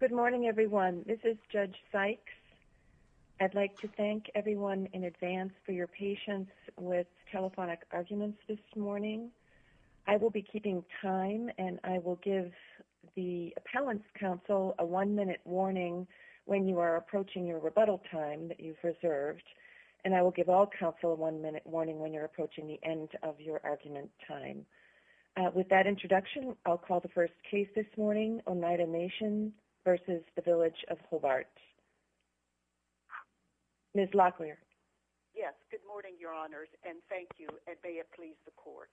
Good morning everyone. This is Judge Sykes. I'd like to thank everyone in advance for your patience with telephonic arguments this morning. I will be keeping time and I will give the appellant's counsel a one-minute warning when you are approaching your rebuttal time that you've reserved and I will give all counsel a one-minute warning when you're approaching the end of your versus the Village of Hobart. Ms. Locklear. Yes, good morning your honors and thank you and may it please the court.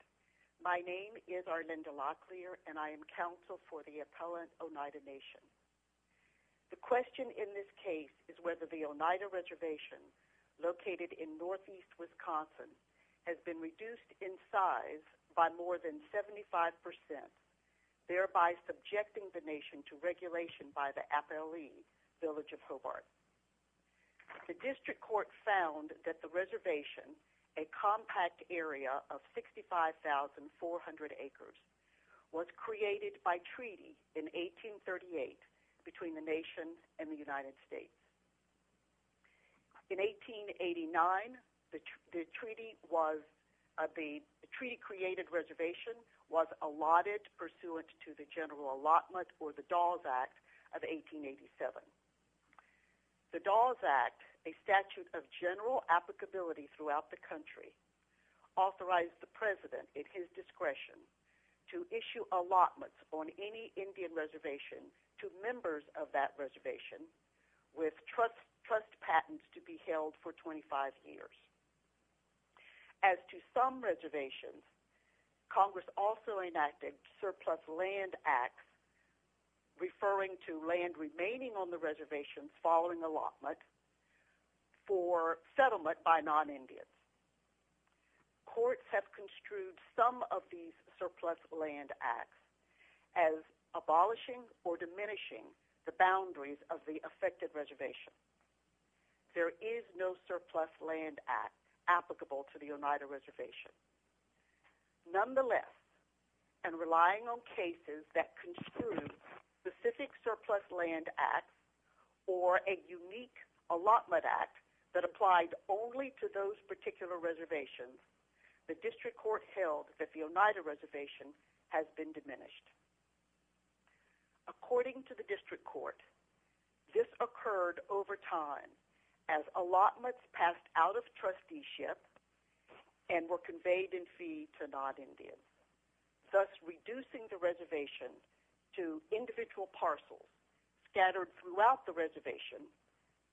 My name is Arlinda Locklear and I am counsel for the appellant Oneida Nation. The question in this case is whether the Oneida Reservation located in northeast Wisconsin has been reduced in size by more than 75 percent, thereby subjecting the nation to regulation by the appellee Village of Hobart. The district court found that the reservation, a compact area of 65,400 acres, was created by treaty in 1838 between the nation and the United States. In 1889, the treaty was the treaty created reservation was allotted pursuant to the general allotment or the Dawes Act of 1887. The Dawes Act, a statute of general applicability throughout the country, authorized the president at his discretion to issue allotments on any Indian reservation to members of that reservation with trust patents to be held for 25 years. As to some reservations, Congress also enacted surplus land acts referring to land remaining on the reservation following allotment for settlement by non-Indians. Courts have construed some of these surplus land acts as abolishing or diminishing the boundaries of the affected reservation. There is no surplus land act applicable to the Oneida Reservation. Nonetheless, and relying on cases that construed specific surplus land acts or a unique allotment act that applied only to those particular reservations, the district court held that the Oneida Reservation has been diminished. According to the district court, this occurred over time as allotments passed out of trusteeship and were conveyed in fee to non-Indians, thus reducing the reservation to individual parcels scattered throughout the reservation,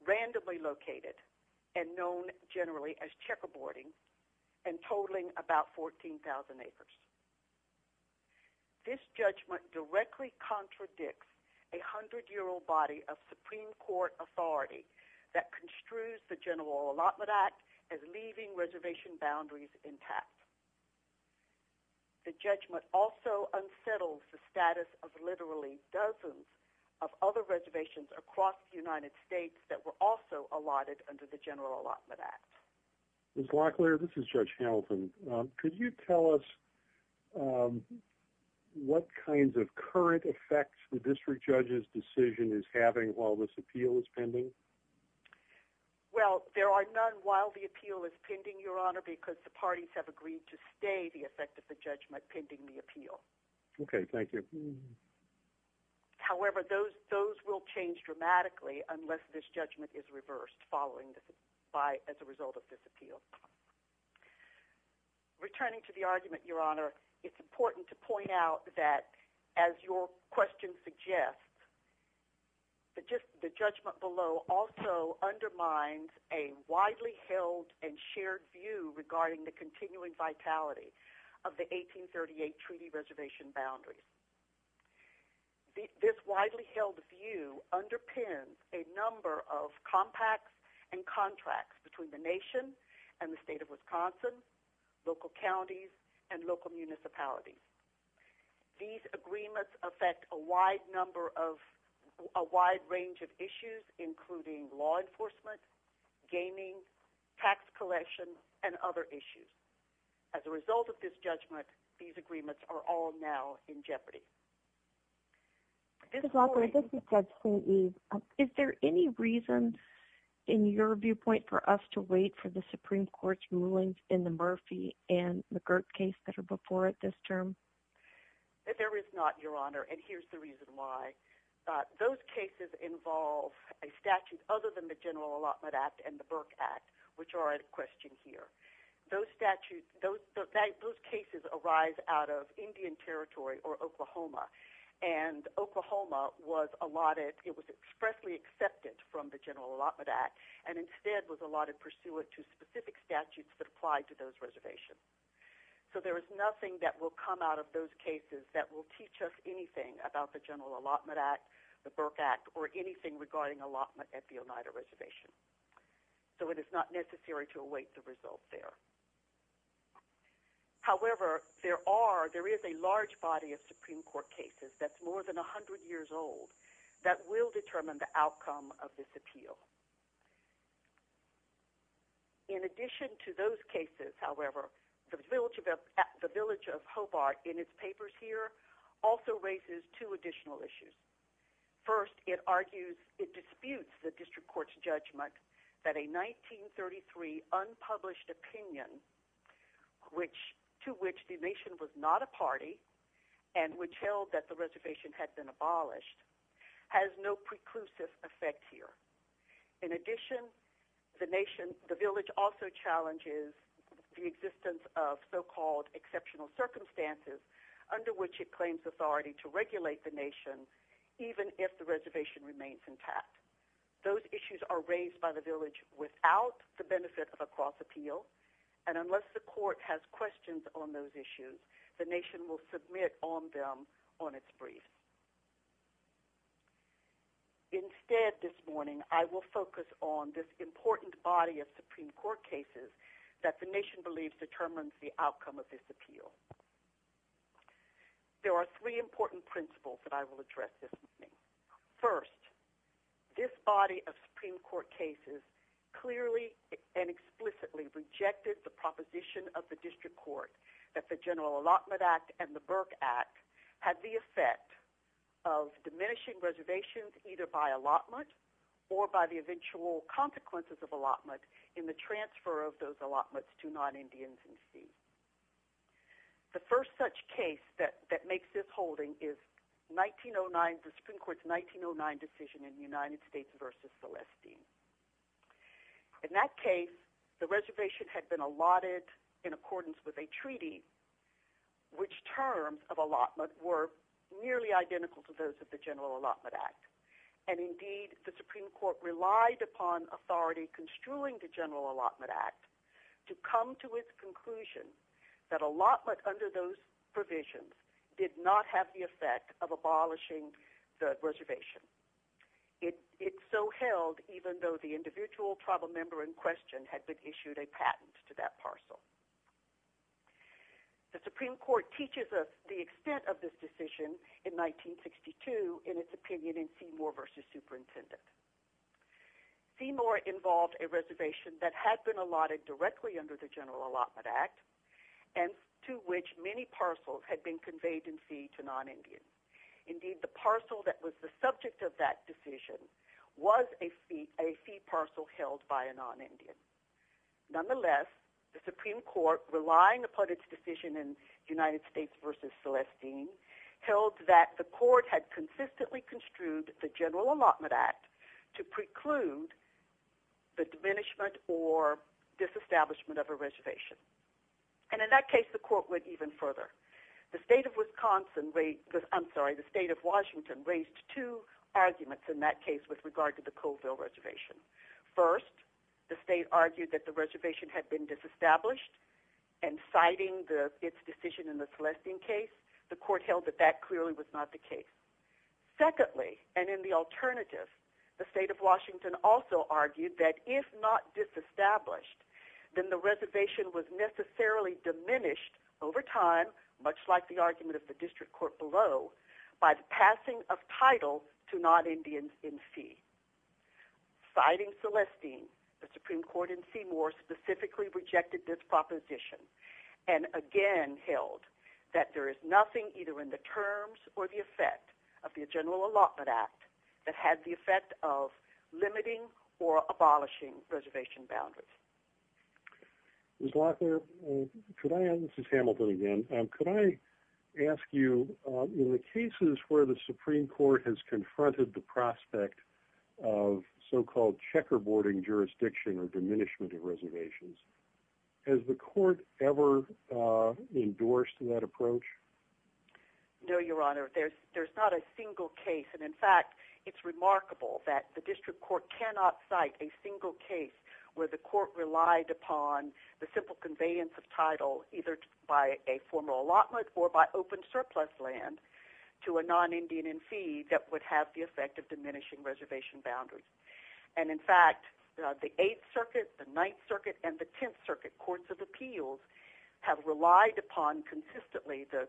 randomly located and known generally as checkerboarding and totaling about 14,000 acres. This judgment directly contradicts a 100-year-old body of Supreme Court authority that construes the general allotment act as leaving reservation boundaries intact. The judgment also unsettles the status of literally dozens of other reservations across the United States that were also allotted under the general allotment act. Judge Hamilton, could you tell us what kinds of current effects the district judge's decision is having while this appeal is pending? Well, there are none while the appeal is pending, Your Honor, because the parties have agreed to stay the effect of the judgment pending the appeal. Okay, thank you. However, those will change dramatically unless this judgment is reversed following this by as a result of this appeal. Returning to the argument, Your Honor, it's important to point out that as your question suggests, the judgment below also undermines a widely held and shared view regarding the continuing vitality of the 1838 treaty reservation boundaries. This widely held view underpins a number of compacts and contracts between the nation and the state of Wisconsin, local counties, and local municipalities. These agreements affect a wide range of issues including law enforcement, gaming, tax collection, and other issues. As a result of this judgment, these agreements are all now in jeopardy. Is there any reason in your viewpoint for us to wait for the Supreme Court's rulings in the Murphy and McGirt case that are before it this term? There is not, Your Honor, and here's the reason why. Those cases involve a statute other than the General Allotment Act and the Burke Act, which are at question here. Those cases arise out of Indian Territory or Oklahoma, and Oklahoma was expressly accepted from the General Allotment Act and instead was allotted pursuant to specific statutes that apply to those reservations. So there is nothing that will come out of those cases that will teach us anything about the General Allotment Act, the Burke Act, or anything regarding allotment at the Oneida Reservation. So it is not necessary to await the results there. However, there is a large body of Supreme Court cases that's more than In addition to those cases, however, the village of Hobart in its papers here also raises two additional issues. First, it argues, it disputes the district court's judgment that a 1933 unpublished opinion to which the nation was not a party and which held that the reservation had been abolished has no preclusive effect here. In addition, the village also challenges the existence of so-called exceptional circumstances under which it claims authority to regulate the nation, even if the reservation remains intact. Those issues are raised by the village without the benefit of a cross appeal, and unless the court has questions on those issues, the nation will submit on them on its brief. Instead, this morning, I will focus on this important body of Supreme Court cases that the nation believes determines the outcome of this appeal. There are three important principles that I will address this morning. First, this body of Supreme Court cases clearly and explicitly rejected the proposition of the Allotment Act and the Burke Act had the effect of diminishing reservations either by allotment or by the eventual consequences of allotment in the transfer of those allotments to non-Indians and C's. The first such case that makes this holding is 1909, the Supreme Court's 1909 decision in United States v. Celestine. In that case, the reservation had been allotted in accordance with a treaty, which terms of allotment were nearly identical to those of the General Allotment Act. Indeed, the Supreme Court relied upon authority construing the General Allotment Act to come to its conclusion that allotment under those provisions did not have the effect of abolishing the reservation. It so held even though the individual tribal member had been issued a patent to that parcel. The Supreme Court teaches us the extent of this decision in 1962 in its opinion in Seymour v. Superintendent. Seymour involved a reservation that had been allotted directly under the General Allotment Act and to which many parcels had been conveyed in fee to non-Indians. Indeed, the parcel that was the subject of that decision was a fee parcel held by a non-Indian. Nonetheless, the Supreme Court relying upon its decision in United States v. Celestine held that the court had consistently construed the General Allotment Act to preclude the diminishment or disestablishment of a reservation. In that case, the court went even further. The state of Washington raised two arguments in that case with regard to the Colville Reservation. First, the state argued that the reservation had been disestablished and citing its decision in the Celestine case, the court held that that clearly was not the case. Secondly, and in the alternative, the state of Washington also argued that if not over time, much like the argument of the district court below, by the passing of title to non-Indians in fee. Citing Celestine, the Supreme Court in Seymour specifically rejected this proposition and again held that there is nothing either in the terms or the effect of the General Allotment Act that had the effect of limiting or abolishing reservation boundaries. Ms. Locklear, this is Hamilton again. Could I ask you, in the cases where the Supreme Court has confronted the prospect of so-called checkerboarding jurisdiction or diminishment of reservations, has the court ever endorsed that approach? No, Your Honor. There's not a single case and in fact it's remarkable that the district court cannot cite a single case where the court relied upon the simple conveyance of title either by a formal allotment or by open surplus land to a non-Indian in fee that would have the effect of diminishing reservation boundaries. And in fact, the Eighth Circuit, the Ninth Circuit, and the Tenth Circuit Courts of Appeals have relied upon consistently the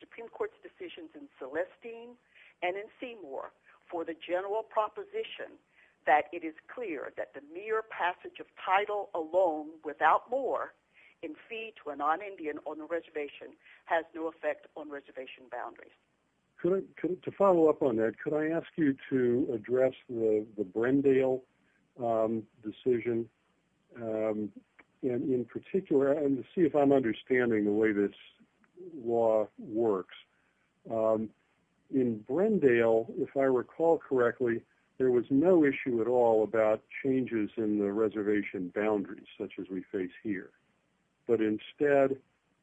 Supreme Court's decisions in Celestine and in Seymour for the general proposition that it is clear that the mere passage of title alone without more in fee to a non-Indian on the reservation has no effect on reservation boundaries. To follow up on that, could I ask you to address the Brendale decision and in particular, and to see if I'm understanding the way this law works, in Brendale, if I recall correctly, there was no issue at all about changes in the reservation boundaries such as we face here. But instead,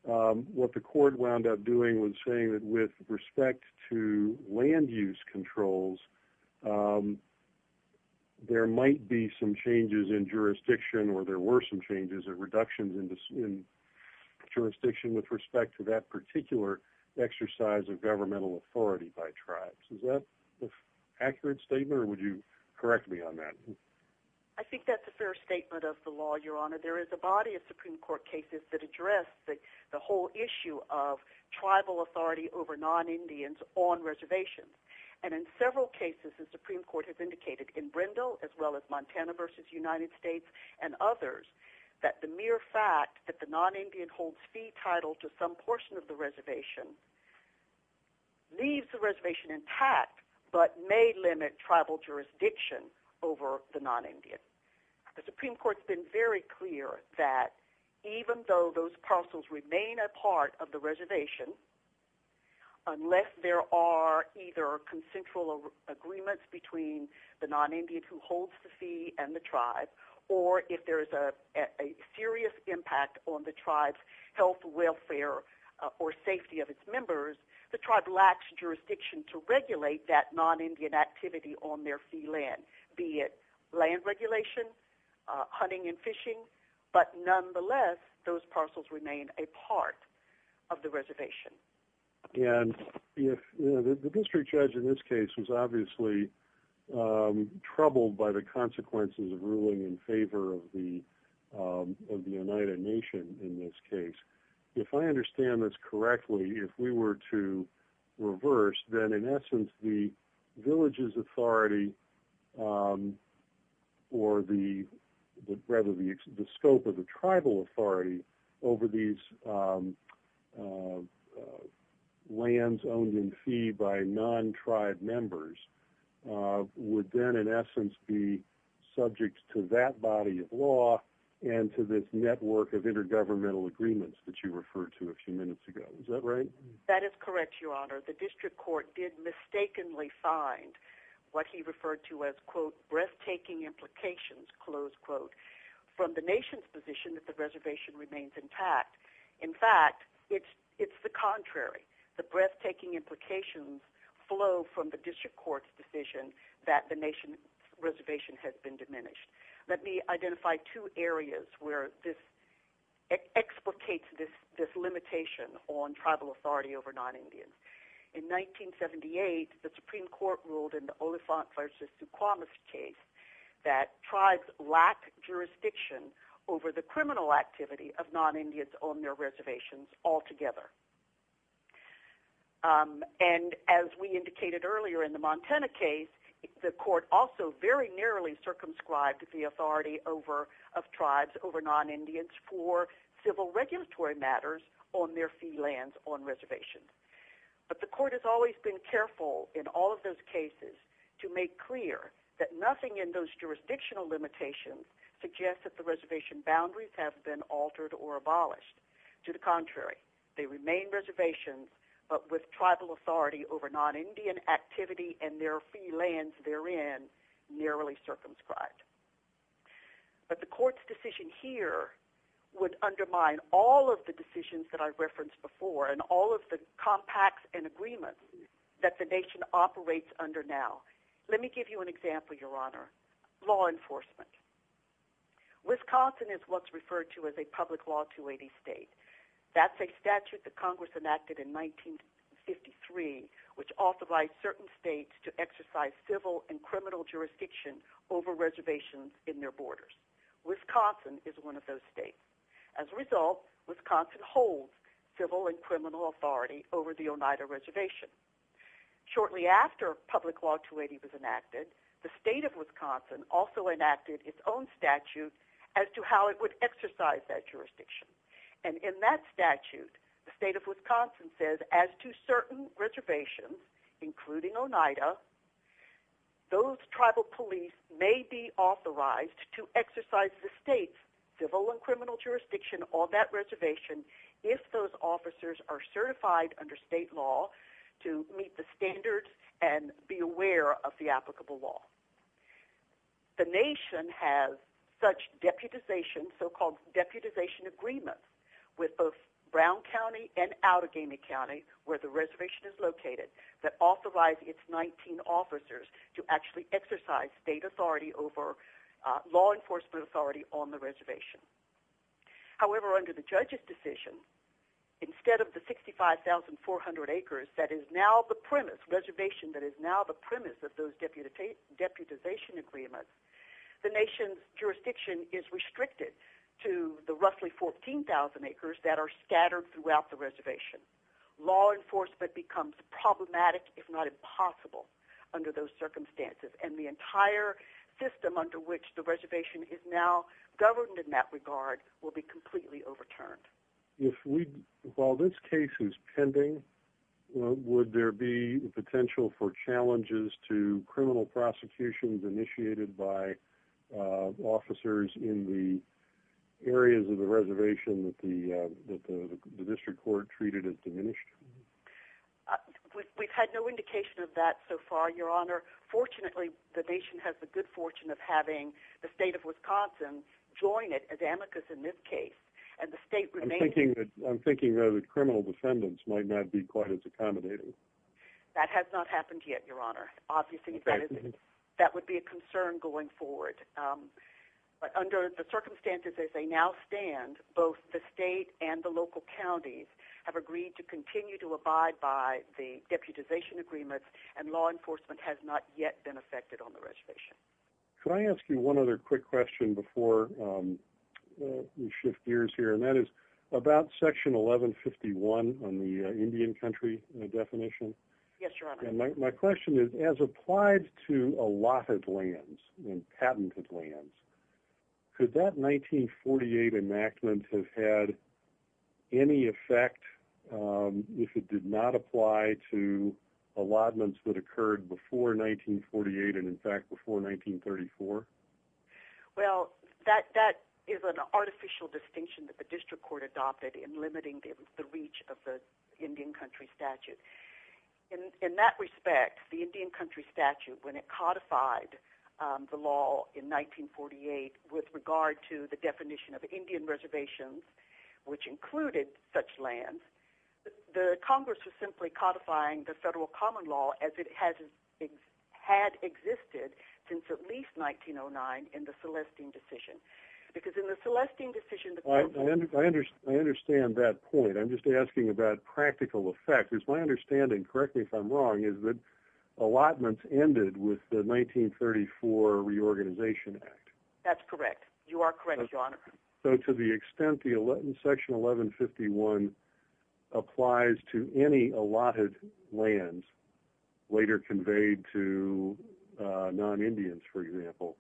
what the court wound up doing was saying that with respect to land use controls, there might be some changes in jurisdiction or there were some changes or reductions in jurisdiction with respect to that particular exercise of governmental authority by tribes. Is that an accurate statement or would you correct me on that? I think that's a fair statement of the law, Your Honor. There is a body of Supreme Court cases that reservations. And in several cases, the Supreme Court has indicated in Brendale as well as Montana versus United States and others that the mere fact that the non-Indian holds fee title to some portion of the reservation leaves the reservation intact but may limit tribal jurisdiction over the non-Indian. The Supreme Court's been very clear that even though those parcels remain a part of reservation, unless there are either consensual agreements between the non-Indian who holds the fee and the tribe, or if there's a serious impact on the tribe's health, welfare, or safety of its members, the tribe lacks jurisdiction to regulate that non-Indian activity on their fee land, be it land regulation, hunting and fishing, but nonetheless, those parcels remain a part of the reservation. And if the district judge in this case was obviously troubled by the consequences of ruling in favor of the United Nation in this case, if I understand this correctly, if we were to reverse, then in essence, the village's authority or the scope of the tribal authority over these lands owned in fee by non-tribe members would then in essence be subject to that body of law and to this network of intergovernmental agreements that you referred to a few minutes ago. Is that breathtaking implications, close quote, from the nation's position that the reservation remains intact? In fact, it's the contrary. The breathtaking implications flow from the district court's decision that the nation's reservation has been diminished. Let me identify two areas where this explicates this limitation on tribal authority over non-Indians. In 1978, the Supreme Court ruled in the Oliphant v. Duquamis case that tribes lack jurisdiction over the criminal activity of non-Indians on their reservations altogether. And as we indicated earlier in the Montana case, the court also very narrowly circumscribed the authority of tribes over non-Indians for civil regulatory matters on their fee lands on in all of those cases to make clear that nothing in those jurisdictional limitations suggests that the reservation boundaries have been altered or abolished. To the contrary, they remain reservations but with tribal authority over non-Indian activity and their fee lands therein narrowly circumscribed. But the court's decision here would undermine all of the decisions that I referenced before and all of the compacts and agreements that the nation operates under now. Let me give you an example, Your Honor. Law enforcement. Wisconsin is what's referred to as a public law 280 state. That's a statute that Congress enacted in 1953 which authorized certain states to exercise civil and criminal jurisdiction over reservations in their borders. Wisconsin is one of those states. As a result, Wisconsin holds civil and criminal authority over the Oneida Reservation. Shortly after public law 280 was enacted, the state of Wisconsin also enacted its own statute as to how it would exercise that jurisdiction. And in that statute, the state of Wisconsin says as to certain reservations, including Oneida, those tribal police may be authorized to exercise the state's civil and criminal jurisdiction on that reservation if those officers are certified under state law to meet the standards and be aware of the applicable law. The nation has such deputization, so-called deputization agreements with both Brown County and Outagamie County where the reservation is located that authorize its 19 officers to actually exercise state authority over law enforcement authority on the reservation. However, under the judge's decision, instead of the 65,400 acres that is now the premise, reservation that is now the premise of those deputization agreements, the nation's jurisdiction is restricted to the roughly 14,000 acres that are scattered throughout the reservation. Law enforcement becomes problematic, if not impossible, under those circumstances. And the entire system under which the reservation is now governed in that regard will be completely overturned. While this case is pending, would there be potential for challenges to criminal prosecutions initiated by officers in the areas of the reservation that the district court treated as diminished? We've had no indication of that so far, Your Honor. Fortunately, the nation has the good fortune of having the state of Wisconsin join it as amicus in this case, and the state remains- I'm thinking that criminal defendants might not be quite as accommodating. That has not happened yet, Your Honor. Obviously, that would be a concern going forward. But under the circumstances as they now stand, both the state and the local counties have agreed to continue to abide by the deputization agreements, and law enforcement has not yet been affected on the reservation. Can I ask you one other quick question before we shift gears here, and that is about section 1151 on the Indian country definition. Yes, Your Honor. My question is, as applied to allotted lands and patented lands, could that 1948 enactment have had any effect if it did not apply to allotments that occurred before 1948 and, in fact, before 1934? Well, that is an artificial distinction that the district court adopted in limiting the reach of the Indian country statute. In that respect, the Indian country statute, when it codified the law in 1948 with regard to the definition of Indian reservations, which included such lands, the Congress was simply codifying the federal common law as it had existed since at least 1909 in the Celestine decision. Because in the Celestine decision... I understand that point. I'm just asking about practical effect. It's my understanding, correctly if I'm wrong, is that allotments ended with the 1934 Reorganization Act. That's correct. You are correct, Your Honor. So, to the extent that section 1151 applies to any allotted lands later conveyed to non-Indians, for example,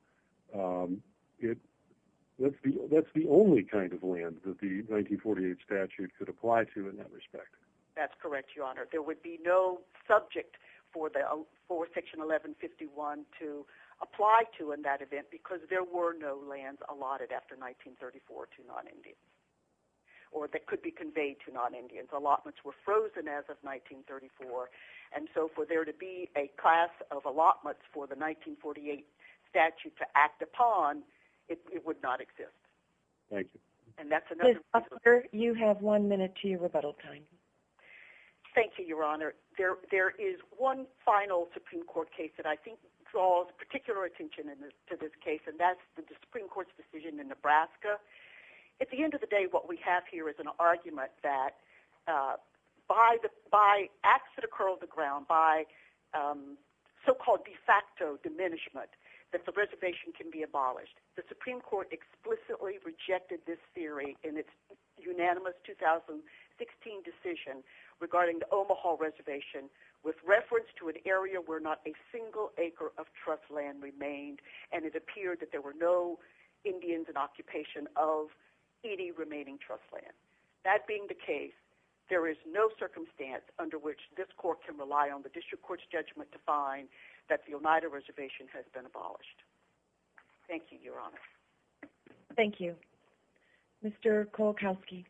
that's the only kind of land that the 1948 statute could apply to in that respect. That's correct, Your Honor. There would be no subject for section 1151 to apply to in that event because there were no lands allotted after 1934 to non-Indians, or that could be conveyed to non-Indians. Allotments were frozen as of 1934, and so for there to be a class of allotments for the 1948 statute to act upon, it would not exist. Thank you. And that's another reason... Liz, you have one minute to your rebuttal time. Thank you, Your Honor. There is one final Supreme Court case that I think draws particular attention to this case, and that's the Supreme Court's decision in Nebraska. At the end of the day, what we have here is an argument that by acts that occur on the ground, by so-called de facto diminishment, that the reservation can be abolished. The Supreme Court explicitly rejected this theory in its unanimous 2016 decision regarding the Omaha Reservation with reference to an area where not a single acre of trust land remained, and it appeared that there were no Indians in occupation of any remaining trust land. That being the case, there is no circumstance under which this court can rely on the District Court's judgment to find that the Oneida Reservation has been abolished. Thank you, Your Honor. Thank you. Mr. Kowalkowski.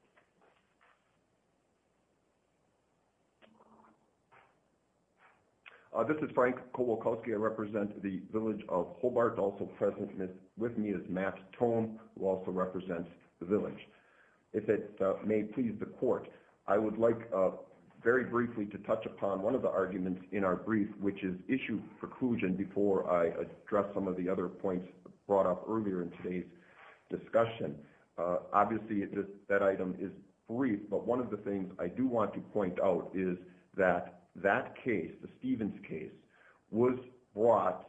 This is Frank Kowalkowski. I represent the village of Hobart. Also present with me is Matt Tone, who also represents the village. If it may please the Court, I would like very briefly to touch upon one of the arguments in our brief, which is issue preclusion, before I address some other points brought up earlier in today's discussion. Obviously, that item is brief, but one of the things I do want to point out is that that case, the Stevens case, was brought,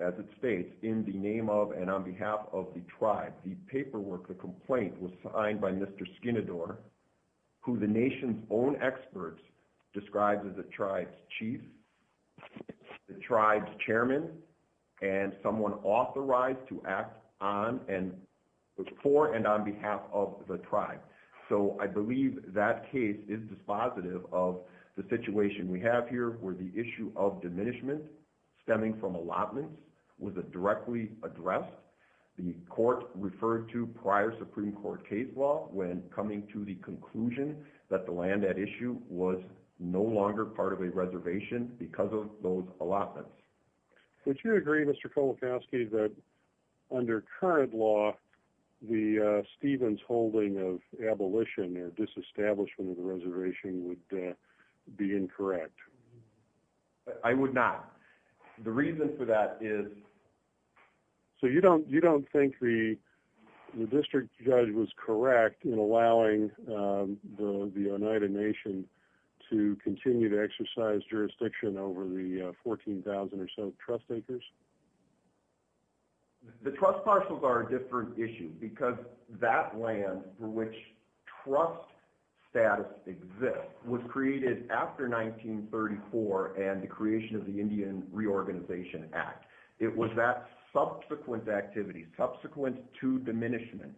as it states, in the name of and on behalf of the tribe. The paperwork, the complaint, was signed by Mr. Skinnador, who the nation's own experts described as a tribe's chief, the tribe's chairman, and someone authorized to act for and on behalf of the tribe. So I believe that case is dispositive of the situation we have here, where the issue of diminishment stemming from allotments was directly addressed. The Court referred to prior Supreme Court case law when coming to the conclusion that the land at issue was no longer part of reservation because of those allotments. Would you agree, Mr. Kolokoski, that under current law, the Stevens holding of abolition or disestablishment of the reservation would be incorrect? I would not. The reason for that is... So you don't think the district judge was over the 14,000 or so trust acres? The trust parcels are a different issue because that land for which trust status exists was created after 1934 and the creation of the Indian Reorganization Act. It was that subsequent activity, subsequent to diminishment,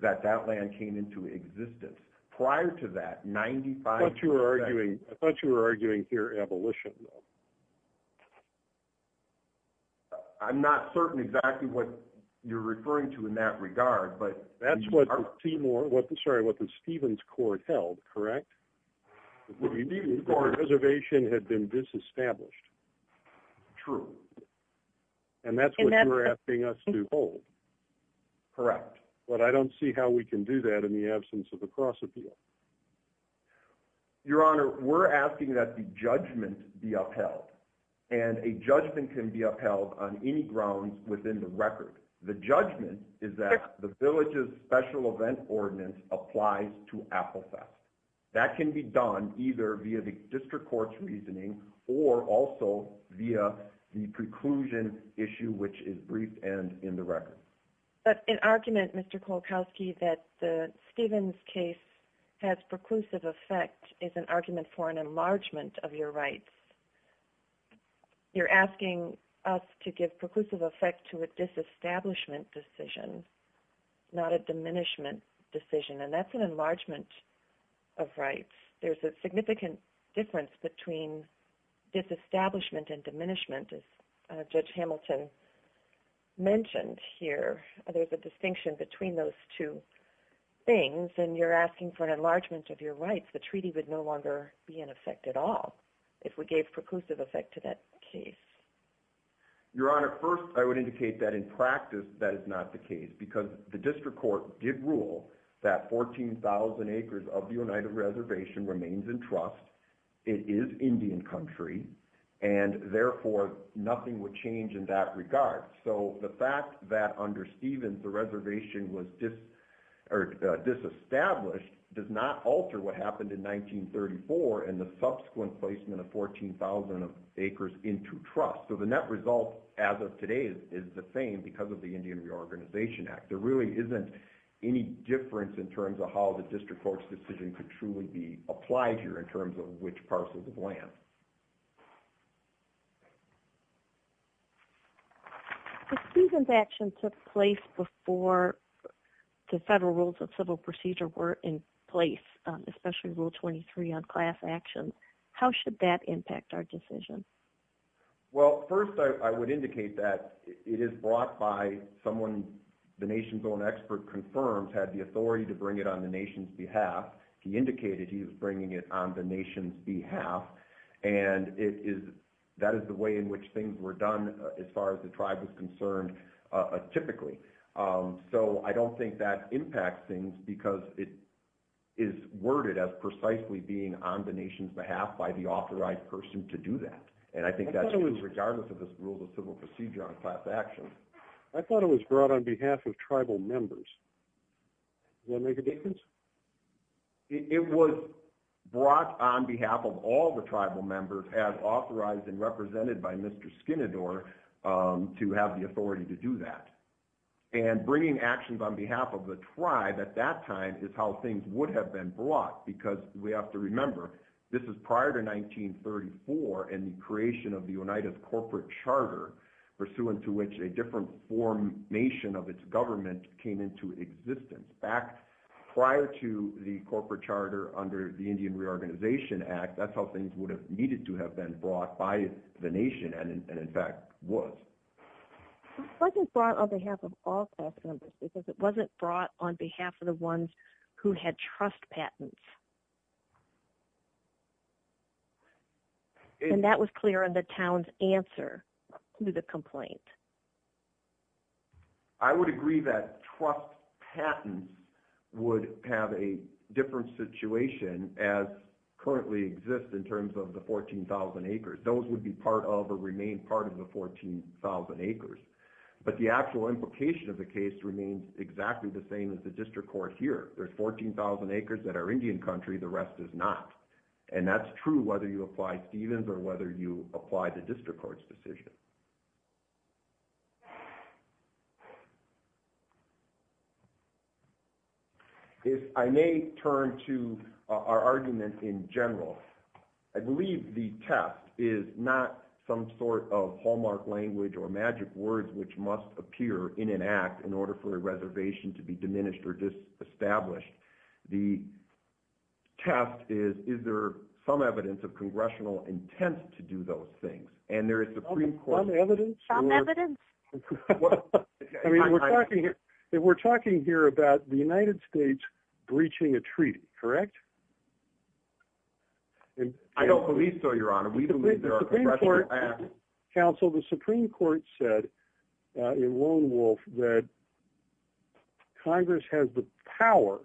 that that land came into existence. Prior to that, 95 percent... I thought you were arguing here abolition. I'm not certain exactly what you're referring to in that regard, but... That's what the Stevens Court held, correct? The reservation had been disestablished. True. And that's what you're asking us to hold. Correct. But I don't see how we can do that in absence of a cross appeal. Your Honor, we're asking that the judgment be upheld. And a judgment can be upheld on any grounds within the record. The judgment is that the village's special event ordinance applies to Applesauce. That can be done either via the district court's reasoning or also via the preclusion issue, which is briefed and in the record. But an argument, Mr. Kolokoski, that the Stevens case has preclusive effect is an argument for an enlargement of your rights. You're asking us to give preclusive effect to a disestablishment decision, not a diminishment decision, and that's an enlargement of rights. There's a significant difference between disestablishment and diminishment, as Judge Hamilton mentioned here. There's a distinction between those two things. And you're asking for an enlargement of your rights. The treaty would no longer be in effect at all if we gave preclusive effect to that case. Your Honor, first, I would indicate that in practice, that is not the case because the district court did rule that 14,000 acres of the United Reservation remains in trust. It is Indian country, and therefore, nothing would change in that regard. So the fact that under Stevens, the reservation was disestablished does not alter what happened in 1934 and the subsequent placement of 14,000 acres into trust. So the net result as of today is the same because of the Indian Reorganization Act. There really isn't any difference in terms of how the district court's decision could truly be applied here in terms of which parcels of land. If Stevens' action took place before the federal rules of civil procedure were in place, especially Rule 23 on class action, how should that impact our decision? Well, first, I would indicate that it is brought by someone the nation's own expert confirms had the authority to bring it on the nation's behalf. He indicated he was bringing it on the nation's behalf, and that is the way in which things were done as far as the tribe was concerned typically. So I don't think that impacts things because it is worded as precisely being on the nation's behalf by the authorized person to do that, and I think that's true regardless of this rule of civil procedure on class action. I thought it was brought on behalf of tribal members. Does that make a difference? It was brought on behalf of all the tribal members as authorized and represented by Mr. Skinnador to have the authority to do that, and bringing actions on behalf of the tribe at that time is how things would have been brought because we have to remember this is prior to 1934 and the creation of the United Corporate Charter pursuant to which a different formation of its government came into existence. Back prior to the Corporate Charter under the Indian Reorganization Act, that's how things would have needed to have been brought by the nation and in fact was. It wasn't brought on behalf of all class members because it wasn't brought on behalf of the ones who had trust patents, and that was clear in the town's answer to the complaint. I would agree that trust patents would have a different situation as currently exists in terms of the 14,000 acres. Those would be part of or remain part of the 14,000 acres, but the actual implication of the case remains exactly the same as the district court here. There's 14,000 acres that are Indian country. The rest is not, and that's true whether you apply the district court's decision. If I may turn to our argument in general, I believe the test is not some sort of hallmark language or magic words which must appear in an act in order for a reservation to be diminished or disestablished. The test is, is there some evidence of congressional intent to do those things, and there is- Some evidence? We're talking here about the United States breaching a treaty, correct? I don't believe so, your honor. We believe there are congressional acts- Counsel, the Supreme Court said in Lone Wolf that Congress has the power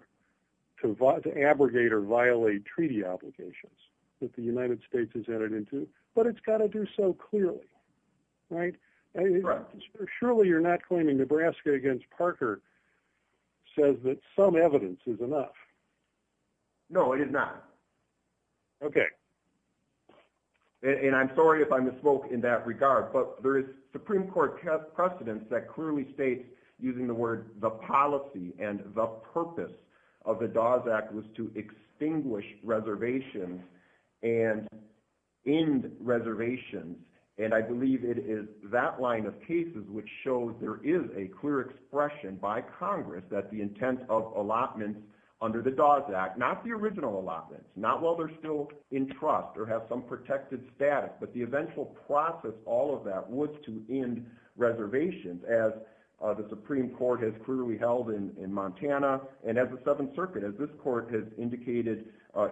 to abrogate or violate treaty obligations that the United States has entered into, but it's got to do so clearly, right? Surely you're not claiming Nebraska against Parker says that some evidence is enough. No, it is not. Okay, and I'm sorry if I misspoke in that regard, but there is Supreme Court precedence that clearly states using the word the policy and the purpose of the Dawes Act was to distinguish reservations and end reservations, and I believe it is that line of cases which shows there is a clear expression by Congress that the intent of allotments under the Dawes Act, not the original allotments, not while they're still in trust or have some protected status, but the eventual process, all of that was to end reservations as the Supreme Court has clearly held in Montana, and as the 7th Circuit, as this court has indicated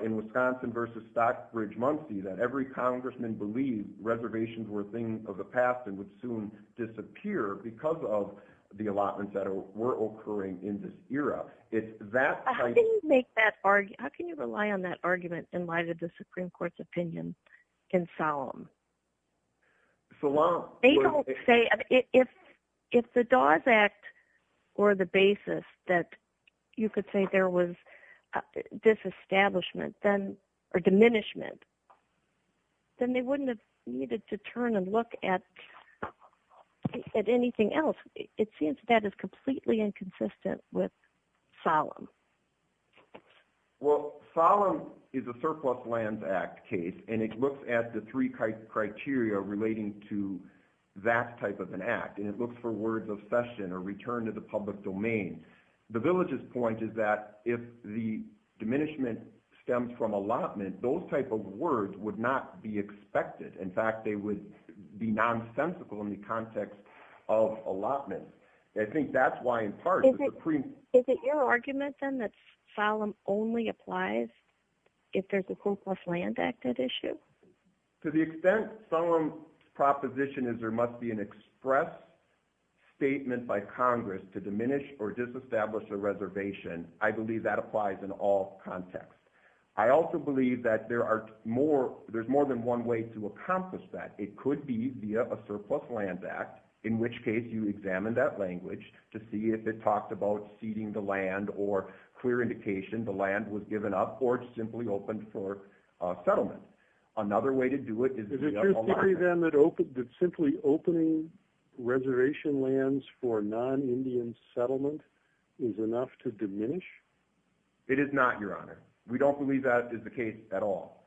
in Wisconsin versus Stockbridge-Munsee that every congressman believed reservations were a thing of the past and would soon disappear because of the allotments that were occurring in this era. How can you make that argument, how can you rely on that argument in light of the Supreme Court's opinion in Solemn? They don't say, if the Dawes Act were the basis that you could say there was disestablishment or diminishment, then they wouldn't have needed to turn and look at at anything else. It seems that is completely inconsistent with Solemn. Well, Solemn is a surplus lands act case, and it looks at the three criteria relating to that type of an act, and it looks for words of cession or return to the public domain. The village's point is that if the diminishment stems from allotment, those type of words would not be expected. In fact, they would be nonsensical in the context of allotments. I think that's why, in part, the Supreme... Is it your argument, then, that Solemn only applies if there's a surplus land act at issue? To the extent Solemn's proposition is there must be an express statement by Congress to diminish or disestablish a reservation, I believe that applies in all contexts. I also believe that there's more than one way to accomplish that. It could be via a surplus lands act, in which case you examine that language to see if it talked about ceding the land or clear indication the land was given up or simply opened for settlement. Another way to do it is... Is it your theory, then, that simply opening reservation lands for non-Indian settlement is enough to diminish? It is not, Your Honor. We don't believe that is the case at all.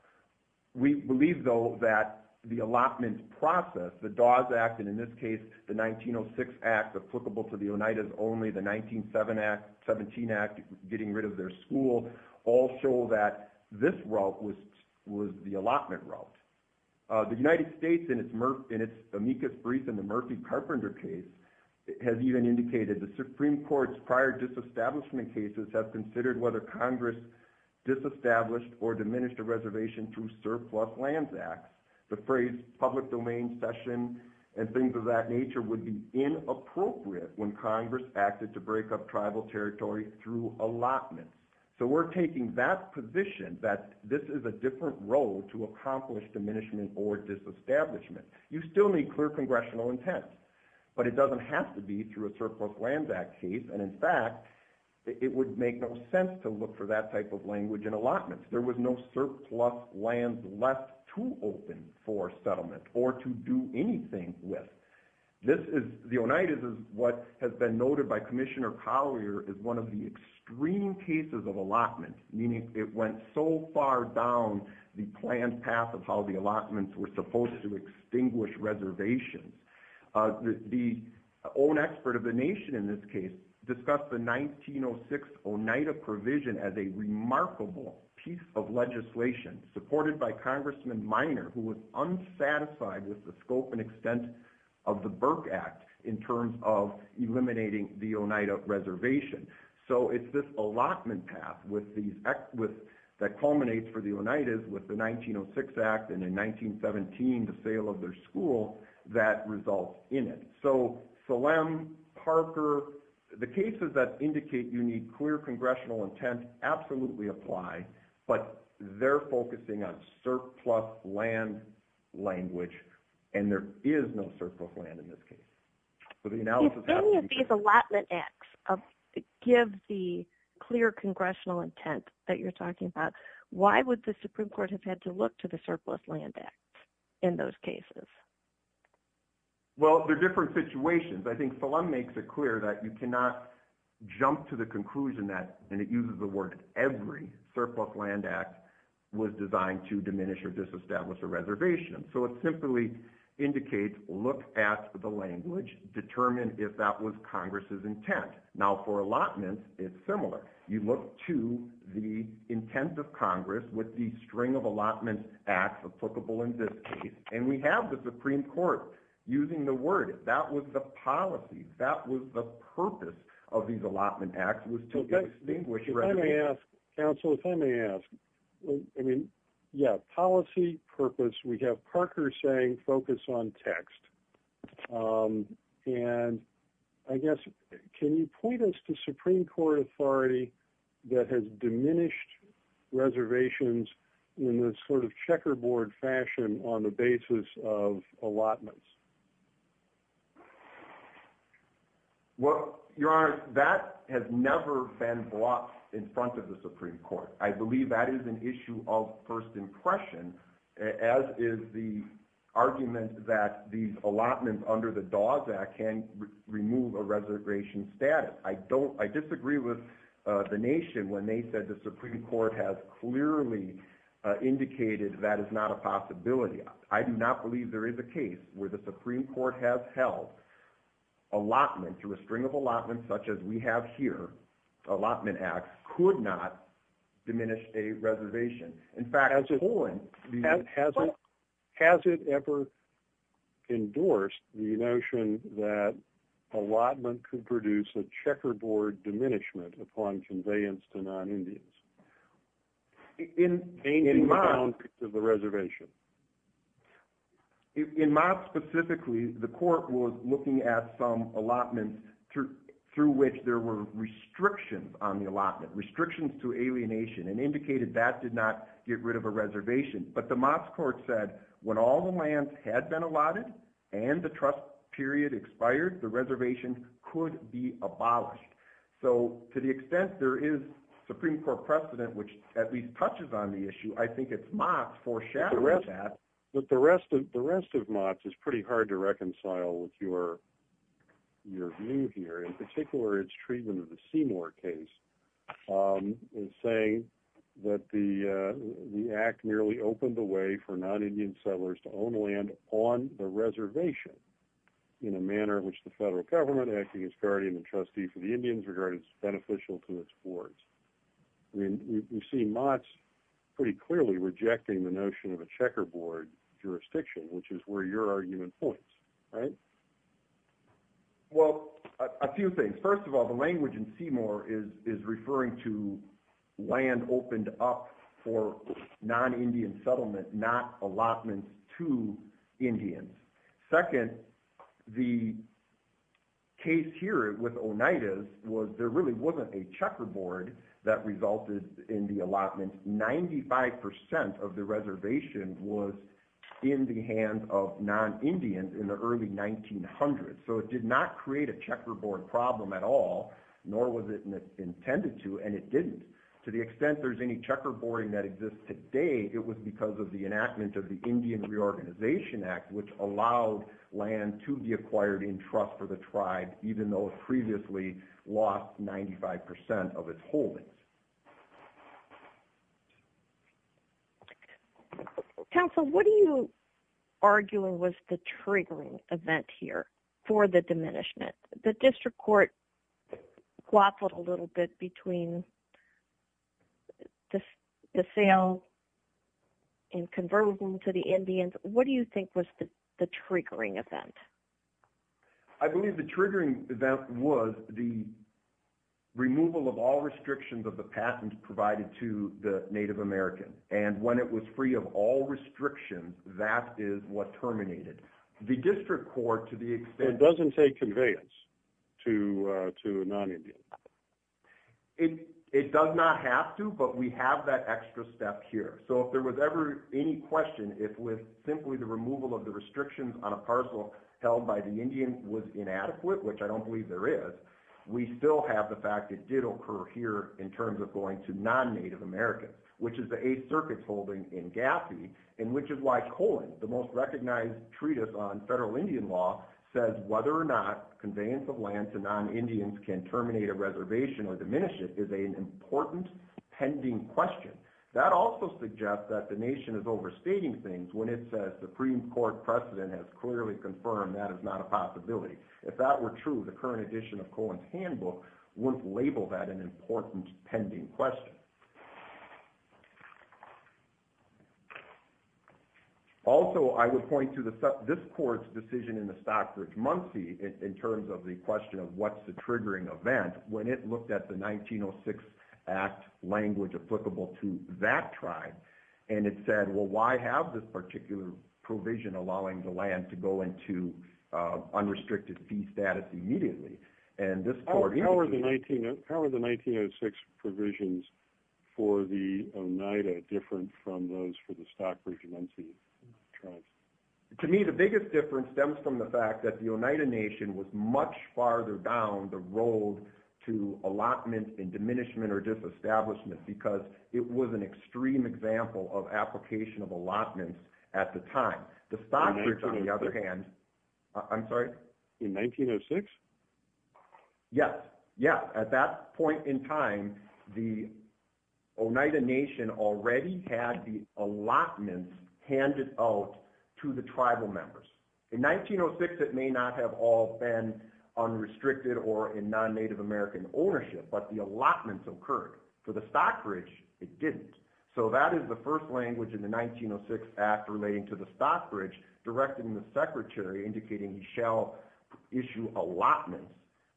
We believe, though, that the allotment process, the Dawes Act, and in this case, the 1906 Act applicable to the Oneidas only, the 1917 Act getting rid of their school, all show that this route was the allotment route. The United States, in its amicus brief in the Murphy-Carpenter case, has even indicated the Supreme Court's prior disestablishment cases have considered whether to diminish the reservation through surplus lands acts. The phrase public domain session and things of that nature would be inappropriate when Congress acted to break up tribal territory through allotment. So we're taking that position that this is a different road to accomplish diminishment or disestablishment. You still need clear congressional intent, but it doesn't have to be through a surplus lands act case. And in fact, it would make no sense to look for that of language in allotments. There was no surplus lands left to open for settlement or to do anything with. The Oneidas is what has been noted by Commissioner Collier as one of the extreme cases of allotment, meaning it went so far down the planned path of how the allotments were supposed to extinguish reservations. The own expert of the nation in this case discussed the 1906 Oneida provision as a remarkable piece of legislation supported by Congressman Minor, who was unsatisfied with the scope and extent of the Burke Act in terms of eliminating the Oneida reservation. So it's this allotment path that culminates for the Oneidas with the 1906 Act and in 1917, the sale of their school that results in it. So Salem, Parker, the cases that indicate you congressional intent absolutely apply, but they're focusing on surplus land language, and there is no surplus land in this case. If any of these allotment acts give the clear congressional intent that you're talking about, why would the Supreme Court have had to look to the surplus land act in those cases? Well, they're different situations. I think Salem makes it clear that you cannot jump to the conclusion that, and it uses the word, every surplus land act was designed to diminish or disestablish a reservation. So it simply indicates, look at the language, determine if that was Congress's intent. Now for allotments, it's similar. You look to the intent of Congress with the string of allotments acts applicable in this case, and we have the Supreme Court using the word. If that was the policy, if that was the purpose of these allotment acts, it would still be a distinguished reservation. If I may ask, counsel, if I may ask. I mean, yeah, policy, purpose, we have Parker saying focus on text. And I guess, can you point us to Supreme Court authority that has diminished reservations in this sort of checkerboard fashion on the basis of allotments? Well, Your Honor, that has never been brought in front of the Supreme Court. I believe that is an issue of first impression, as is the argument that these allotments under the Dawes Act can remove a reservation status. I disagree with the nation when they said the Supreme Court has clearly indicated that is not a possibility. I do not believe there is a case where the Supreme Court has held allotment through a string of allotments, such as we have here, allotment acts could not diminish a reservation. In fact, has it ever endorsed the notion that allotment could produce a checkerboard diminishment upon conveyance to non-Indians, changing the boundaries of the reservation? In Moss specifically, the court was looking at some allotments through which there were restrictions on the allotment, restrictions to alienation, and indicated that did not get rid of a reservation. But the Moss court said when all the lands had been allotted and the trust period expired, the reservation could be abolished. So to the extent there is Supreme Court precedent, which at least touches on the issue, I think it's Moss foreshadowing that. But the rest of Moss is pretty hard to reconcile with your view here. In particular, its treatment of the Seymour case is saying that the act nearly opened the way for non-Indian settlers to own land on the reservation in a manner in which the federal government, acting as guardian and trustee for the Indians, regarded it beneficial to its boards. I mean, we see Moss pretty clearly rejecting the notion of a checkerboard jurisdiction, which is where your argument points, right? Well, a few things. First of all, the language in Seymour is referring to land opened up for non-Indian settlement, not allotments to Indians. Second, the case here with Oneidas was there really wasn't a checkerboard that resulted in the allotment. Ninety-five percent of the reservation was in the hands of non-Indians in the early 1900s. So it did not create a checkerboard problem at all, nor was it intended to, and it didn't. To the extent there's any it was because of the enactment of the Indian Reorganization Act, which allowed land to be acquired in trust for the tribe, even though it previously lost 95 percent of its holdings. Counsel, what are you arguing was the triggering event here for the diminishment? The district and conversion to the Indians, what do you think was the triggering event? I believe the triggering event was the removal of all restrictions of the passage provided to the Native American, and when it was free of all restrictions, that is what terminated. The district court, to the extent... So it doesn't take conveyance to non-Indians? It does not have to, but we have that extra step here. So if there was ever any question, if with simply the removal of the restrictions on a parcel held by the Indian was inadequate, which I don't believe there is, we still have the fact it did occur here in terms of going to non-Native Americans, which is the Eighth Circuit's holding in Gaffey, and which is why Cohen, the most recognized treatise on federal Indian law, says whether or not conveyance of reservation or diminishment is an important pending question. That also suggests that the nation is overstating things when it says Supreme Court precedent has clearly confirmed that is not a possibility. If that were true, the current edition of Cohen's handbook wouldn't label that an important pending question. Also, I would point to this court's decision in the Stockbridge-Munsee in terms of the question of what's the triggering event, when it looked at the 1906 Act language applicable to that tribe, and it said, well, why have this particular provision allowing the land to go into unrestricted fee status immediately? And this court... How are the 1906 provisions for the Oneida different from those for the Stockbridge-Munsee tribes? To me, the biggest difference stems from the fact that the Oneida Nation was much farther down the road to allotment and diminishment or disestablishment because it was an extreme example of application of allotments at the time. The Stockbridge, on the other hand... I'm sorry? In 1906? Yes. Yeah. At that point in time, the Oneida Nation already had the allotments handed out to the tribal members. In 1906, it may not have all been unrestricted or in non-Native American ownership, but the allotments occurred. For the Stockbridge, it didn't. So that is the first language in the 1906 Act relating to the Stockbridge, directing the secretary, indicating he shall issue allotments,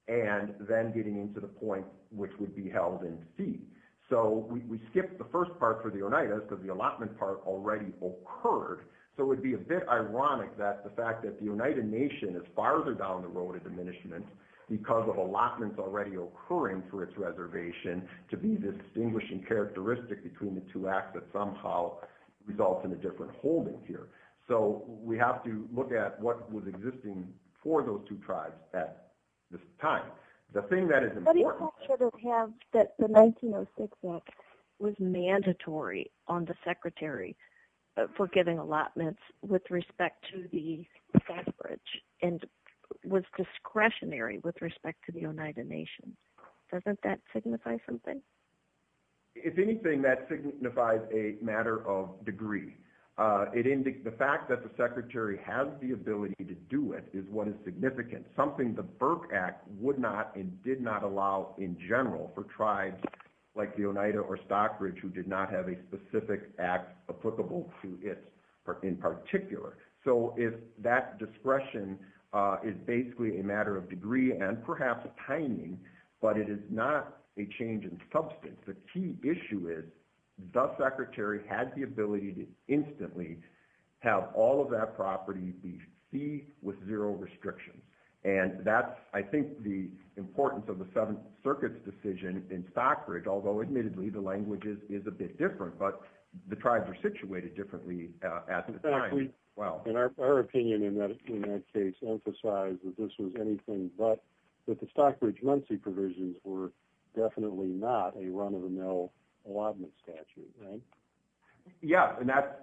and then getting into the point which would be held in fee. So we skipped the first part for the Oneida because the allotment part already occurred. So it would be a bit ironic that the fact that the Oneida Nation is farther down the road of diminishment because of allotments already occurring for its reservation to be distinguishing characteristic between the two acts that somehow results in a different holding here. So we have to look at what was existing for those two tribes at this time. The thing that is important... What effect should it have that the 1906 Act was mandatory on the secretary for giving allotments with respect to the Stockbridge and was discretionary with respect to the Oneida Nation? Doesn't that signify something? If anything, that signifies a matter of degree. The fact that the secretary has the ability to do it is what is significant, something the in general for tribes like the Oneida or Stockbridge who did not have a specific act applicable to it in particular. So if that discretion is basically a matter of degree and perhaps timing, but it is not a change in substance, the key issue is, does secretary have the ability to instantly have all of that property be feed with zero restrictions? And that's I think the importance of the Seventh Circuit's decision in Stockbridge, although admittedly, the language is a bit different, but the tribes are situated differently at the time. Well, our opinion in that case emphasized that this was anything but, that the Stockbridge-Luncey provisions were definitely not a run of the mill allotment statute, right? Yeah, and that's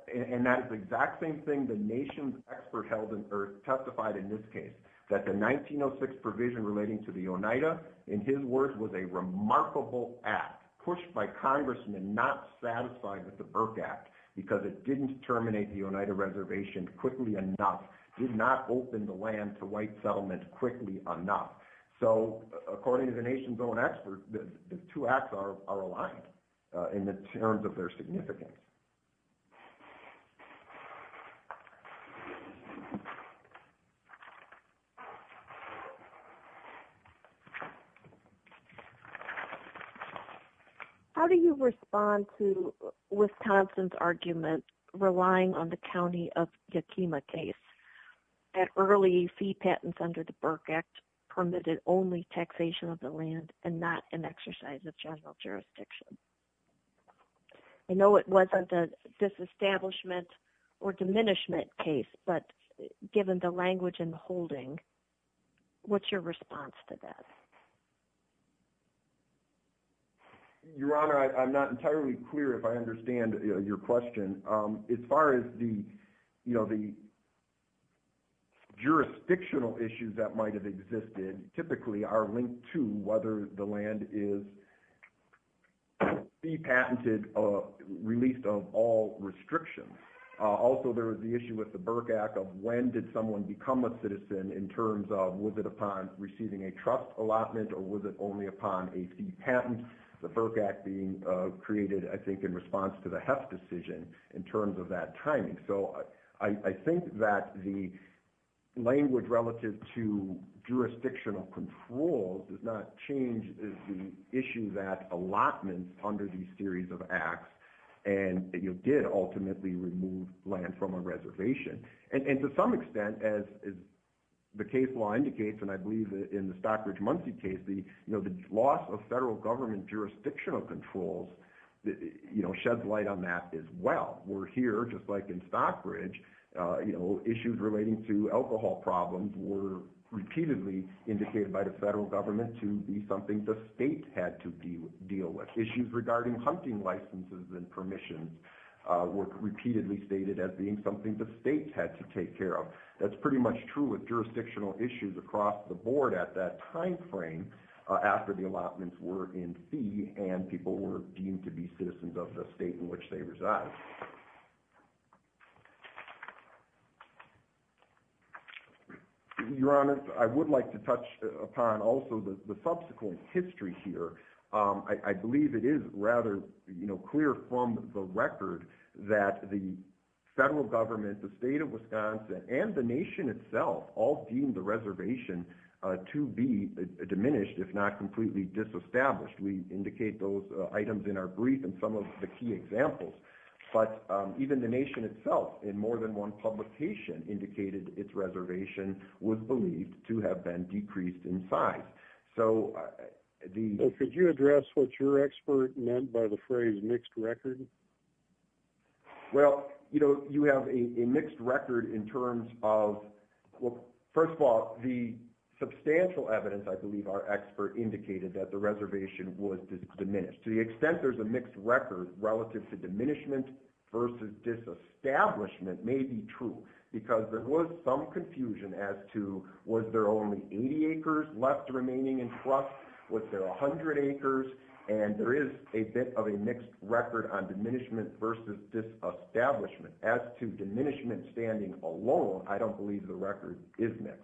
the exact same thing the nation's expert held or testified in this case, that the 1906 provision relating to the Oneida, in his words, was a remarkable act pushed by congressmen not satisfied with the Burke Act because it didn't terminate the Oneida reservation quickly enough, did not open the land to white settlement quickly enough. So according to the nation's own experts, the two acts are aligned in the terms of their significance. How do you respond to Wisconsin's argument relying on the county of Yakima case, that early fee patents under the Burke Act permitted only taxation of the land and not an exercise of general jurisdiction? I know it wasn't a disestablishment or diminishment case, but given the language and the holdings, I think it's important to understand that what's your response to that? Your Honor, I'm not entirely clear if I understand your question. As far as the jurisdictional issues that might have existed, typically are linked to whether the land is fee patented or released of all restrictions. Also, there was the issue with the Burke Act of when did someone become a citizen in terms of was it upon receiving a trust allotment or was it only upon a fee patent? The Burke Act being created, I think, in response to the Heft decision in terms of that timing. So I think that the language relative to jurisdictional control does not change the issue that allotments under these series of acts did ultimately remove land from a reservation. And to some extent, as the case law indicates, and I believe in the Stockbridge-Munsee case, the loss of federal government jurisdictional controls sheds light on that as well. We're here, just like in Stockbridge, issues relating to alcohol problems were repeatedly indicated by the federal government to be something the state had to deal with. Issues regarding hunting licenses and permissions were repeatedly stated as being something the state had to take care of. That's pretty much true with jurisdictional issues across the board at that time frame after the allotments were in fee and people were deemed to be citizens of the state in which they reside. Your Honor, I would like to touch upon also the subsequent history here. I believe it rather clear from the record that the federal government, the state of Wisconsin, and the nation itself all deemed the reservation to be diminished, if not completely disestablished. We indicate those items in our brief and some of the key examples. But even the nation itself, in more than one publication, indicated its reservation was believed to have been decreased in size. So the... Could you address what your expert meant by the phrase mixed record? Well, you have a mixed record in terms of... First of all, the substantial evidence, I believe, our expert indicated that the reservation was diminished. To the extent there's a mixed record relative to diminishment versus disestablishment may be true because there was some confusion as to was there only 80 acres left remaining in trust? Was there 100 acres? And there is a bit of a mixed record on diminishment versus disestablishment. As to diminishment standing alone, I don't believe the record is mixed.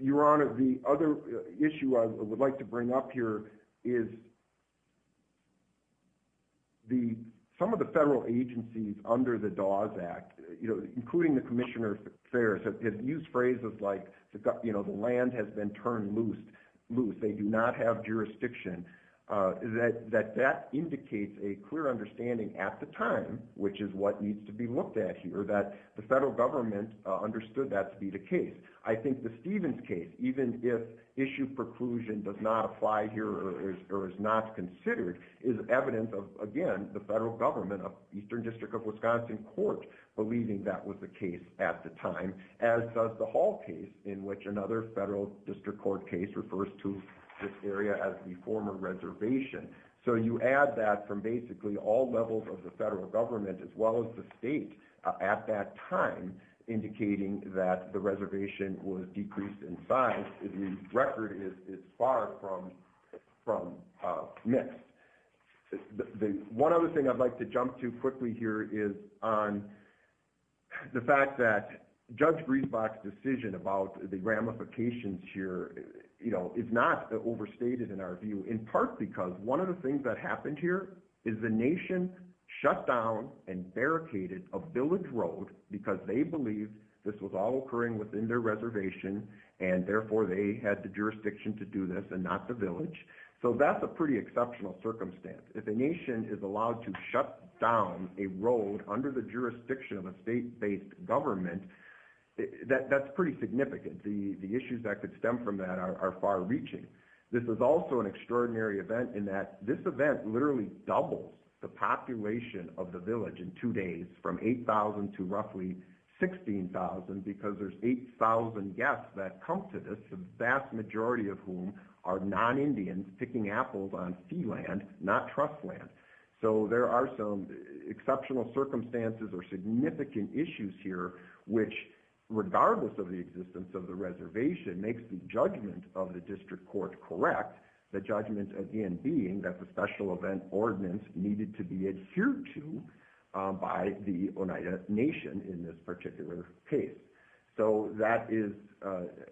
Your Honor, the other issue I would like to bring up here is some of the federal agencies under the Dawes Act, including the Commissioner of Affairs, have used phrases like the land has been turned loose. They do not have jurisdiction. That indicates a clear understanding at the time, which is what needs to be looked at here, that the federal government understood that to be the case. I think the Stevens case, even if issue preclusion does not apply here or is not considered, is evidence of, again, the federal government of Eastern District of Wisconsin Court believing that was the case at the time, as does the Hall case, in which another federal district court case refers to this area as the former reservation. So you add that from basically all levels of the federal government, as well as the state at that time, indicating that the reservation was decreased in size. The record is far from mixed. One other thing I'd like to jump to quickly here is on the fact that Judge Griesbach's decision about the ramifications here is not overstated in our is the nation shut down and barricaded a village road because they believed this was all occurring within their reservation, and therefore they had the jurisdiction to do this and not the village. So that's a pretty exceptional circumstance. If a nation is allowed to shut down a road under the jurisdiction of a state-based government, that's pretty significant. The issues that could stem from that are far-reaching. This is also an extraordinary event in that this event literally doubles the population of the village in two days from 8,000 to roughly 16,000 because there's 8,000 guests that come to this, the vast majority of whom are non-Indians picking apples on sea land, not trust land. So there are some exceptional circumstances or significant issues here, which, regardless of the existence of the reservation, makes the judgment of the district court correct, the judgment again being that the special event ordinance needed to be adhered to by the Oneida Nation in this particular case. So that is,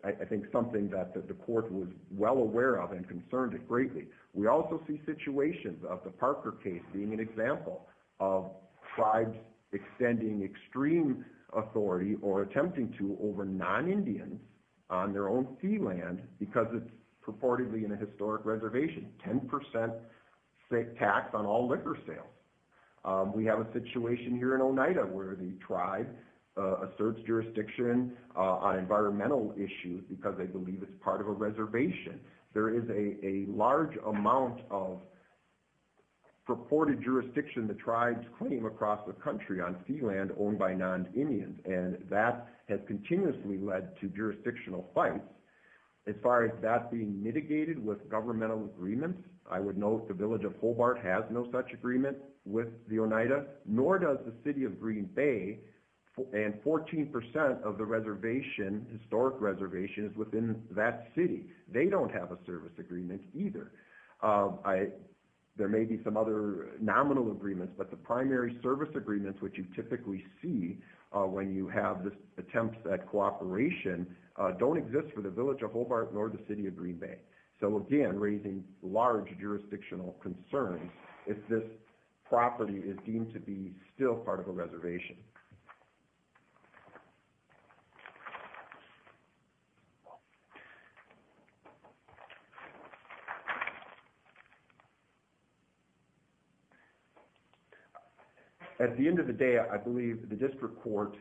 I think, something that the court was well aware of and concerned greatly. We also see situations of the Parker case being an example of tribes extending extreme authority or attempting to over non-Indians on their own sea land because it's purportedly in a historic reservation, 10% tax on all liquor sales. We have a situation here in Oneida where the tribe asserts jurisdiction on environmental issues because they believe it's part of a reservation. There is a large amount of reported jurisdiction the tribes claim across the country on sea land owned by non-Indians, and that has continuously led to jurisdictional fights. As far as that being mitigated with governmental agreements, I would note the village of Hobart has no such agreement with the Oneida, nor does the city of Green Bay, and 14% of the historic reservation is within that city. They don't have a service agreement either. There may be some other nominal agreements, but the primary service agreements which you typically see when you have this attempt at cooperation don't exist for the village of Hobart nor the city of Green Bay. So again, raising large jurisdictional concerns if this property is deemed to be still part of a reservation. At the end of the day, I believe the district court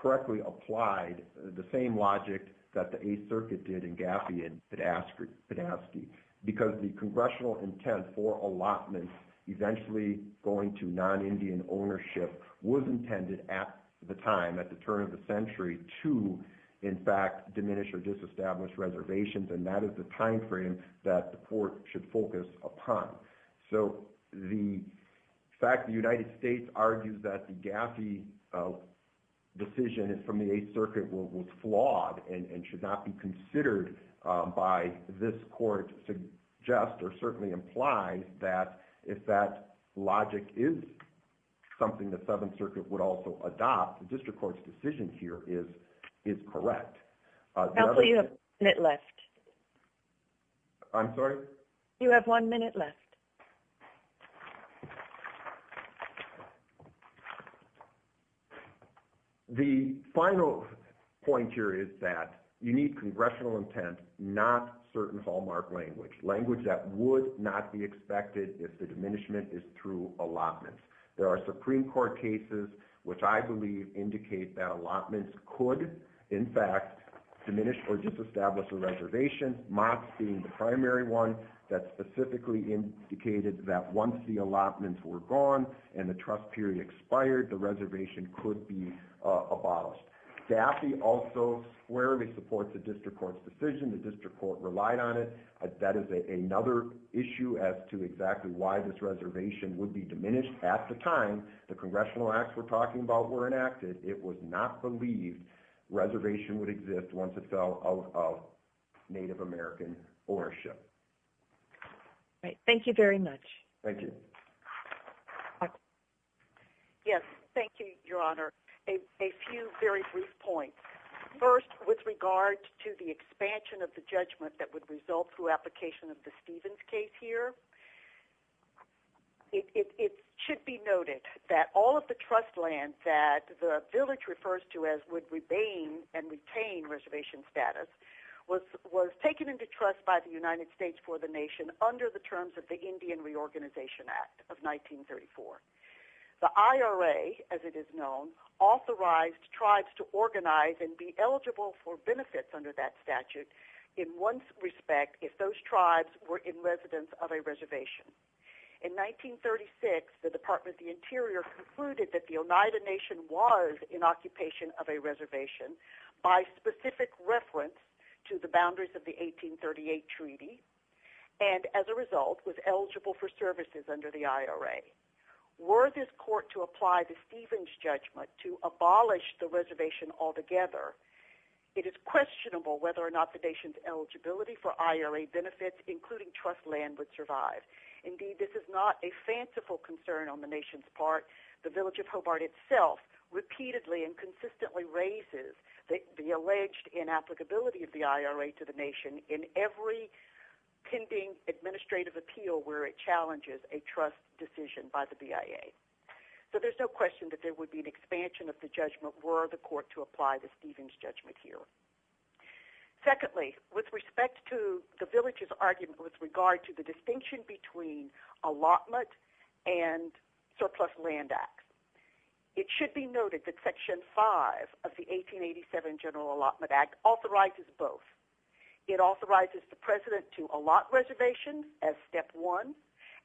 correctly applied the same logic that the Eighth Circuit did in Gaffey and Podastke because the congressional intent for allotment eventually going to non-Indian ownership was intended at the time, at the turn of the century, to in fact disestablish reservations, and that is the timeframe that the court should focus upon. So the fact the United States argues that the Gaffey decision from the Eighth Circuit was flawed and should not be considered by this court suggests or certainly implies that if that logic is something the Seventh Circuit would also adopt, the district court's decision here is correct. You have one minute left. I'm sorry? You have one minute left. The final point here is that you need congressional intent, not certain hallmark language. Language that would not be expected if the diminishment is through allotments. There are diminished or disestablished reservations, MOTS being the primary one that specifically indicated that once the allotments were gone and the trust period expired, the reservation could be abolished. Gaffey also squarely supports the district court's decision. The district court relied on it. That is another issue as to exactly why this reservation would be diminished at the time the congressional acts we're talking about were enacted. It was not believed reservation would exist once it fell out of Native American ownership. Right. Thank you very much. Thank you. Yes. Thank you, Your Honor. A few very brief points. First, with regard to the expansion of the judgment that would result through application of the Stevens case here, it should be noted that all of the trust land that the village refers to as would remain and retain reservation status was taken into trust by the United States for the nation under the terms of the Indian Reorganization Act of 1934. The IRA, as it is known, authorized tribes to organize and be eligible for benefits under that statute in one respect if those tribes were in residence of a reservation. In 1936, the Department of the Interior concluded that the Oneida Nation was in occupation of a reservation by specific reference to the boundaries of the 1838 treaty and as a result was eligible for services under the IRA. Were this court to apply the Stevens judgment to abolish the reservation altogether, it is questionable whether or not the nation's eligibility for IRA benefits, including trust land, would survive. Indeed, this is not a fanciful concern on the nation's part. The village of Hobart itself repeatedly and consistently raises the alleged inapplicability of the IRA to the nation in every pending administrative appeal where it challenges a trust decision by the BIA. So there's no question that there would be an expansion of the judgment were the court to apply the Stevens judgment here. Secondly, with respect to the village's argument with regard to the distinction between allotment and surplus land acts, it should be noted that Section 5 of the 1887 General Allotment Act authorizes both. It authorizes the president to allot reservations as step one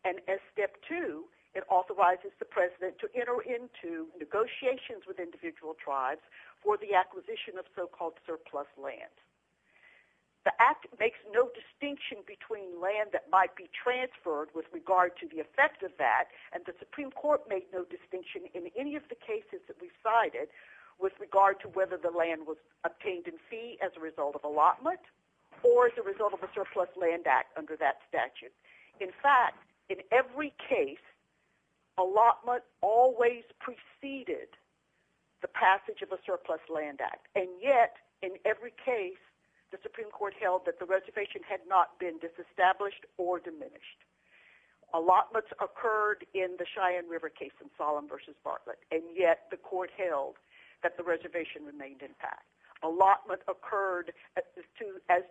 and as step two, it authorizes the president to enter into negotiations with individual tribes for the land. The act makes no distinction between land that might be transferred with regard to the effect of that and the Supreme Court made no distinction in any of the cases that we cited with regard to whether the land was obtained in fee as a result of allotment or as a result of a surplus land act under that statute. In fact, in every case, allotment always preceded the passage of a surplus land act and yet in every case, the Supreme Court held that the reservation had not been disestablished or diminished. Allotments occurred in the Cheyenne River case in Solemn v. Bartlett and yet the court held that the reservation remained intact. Allotment occurred as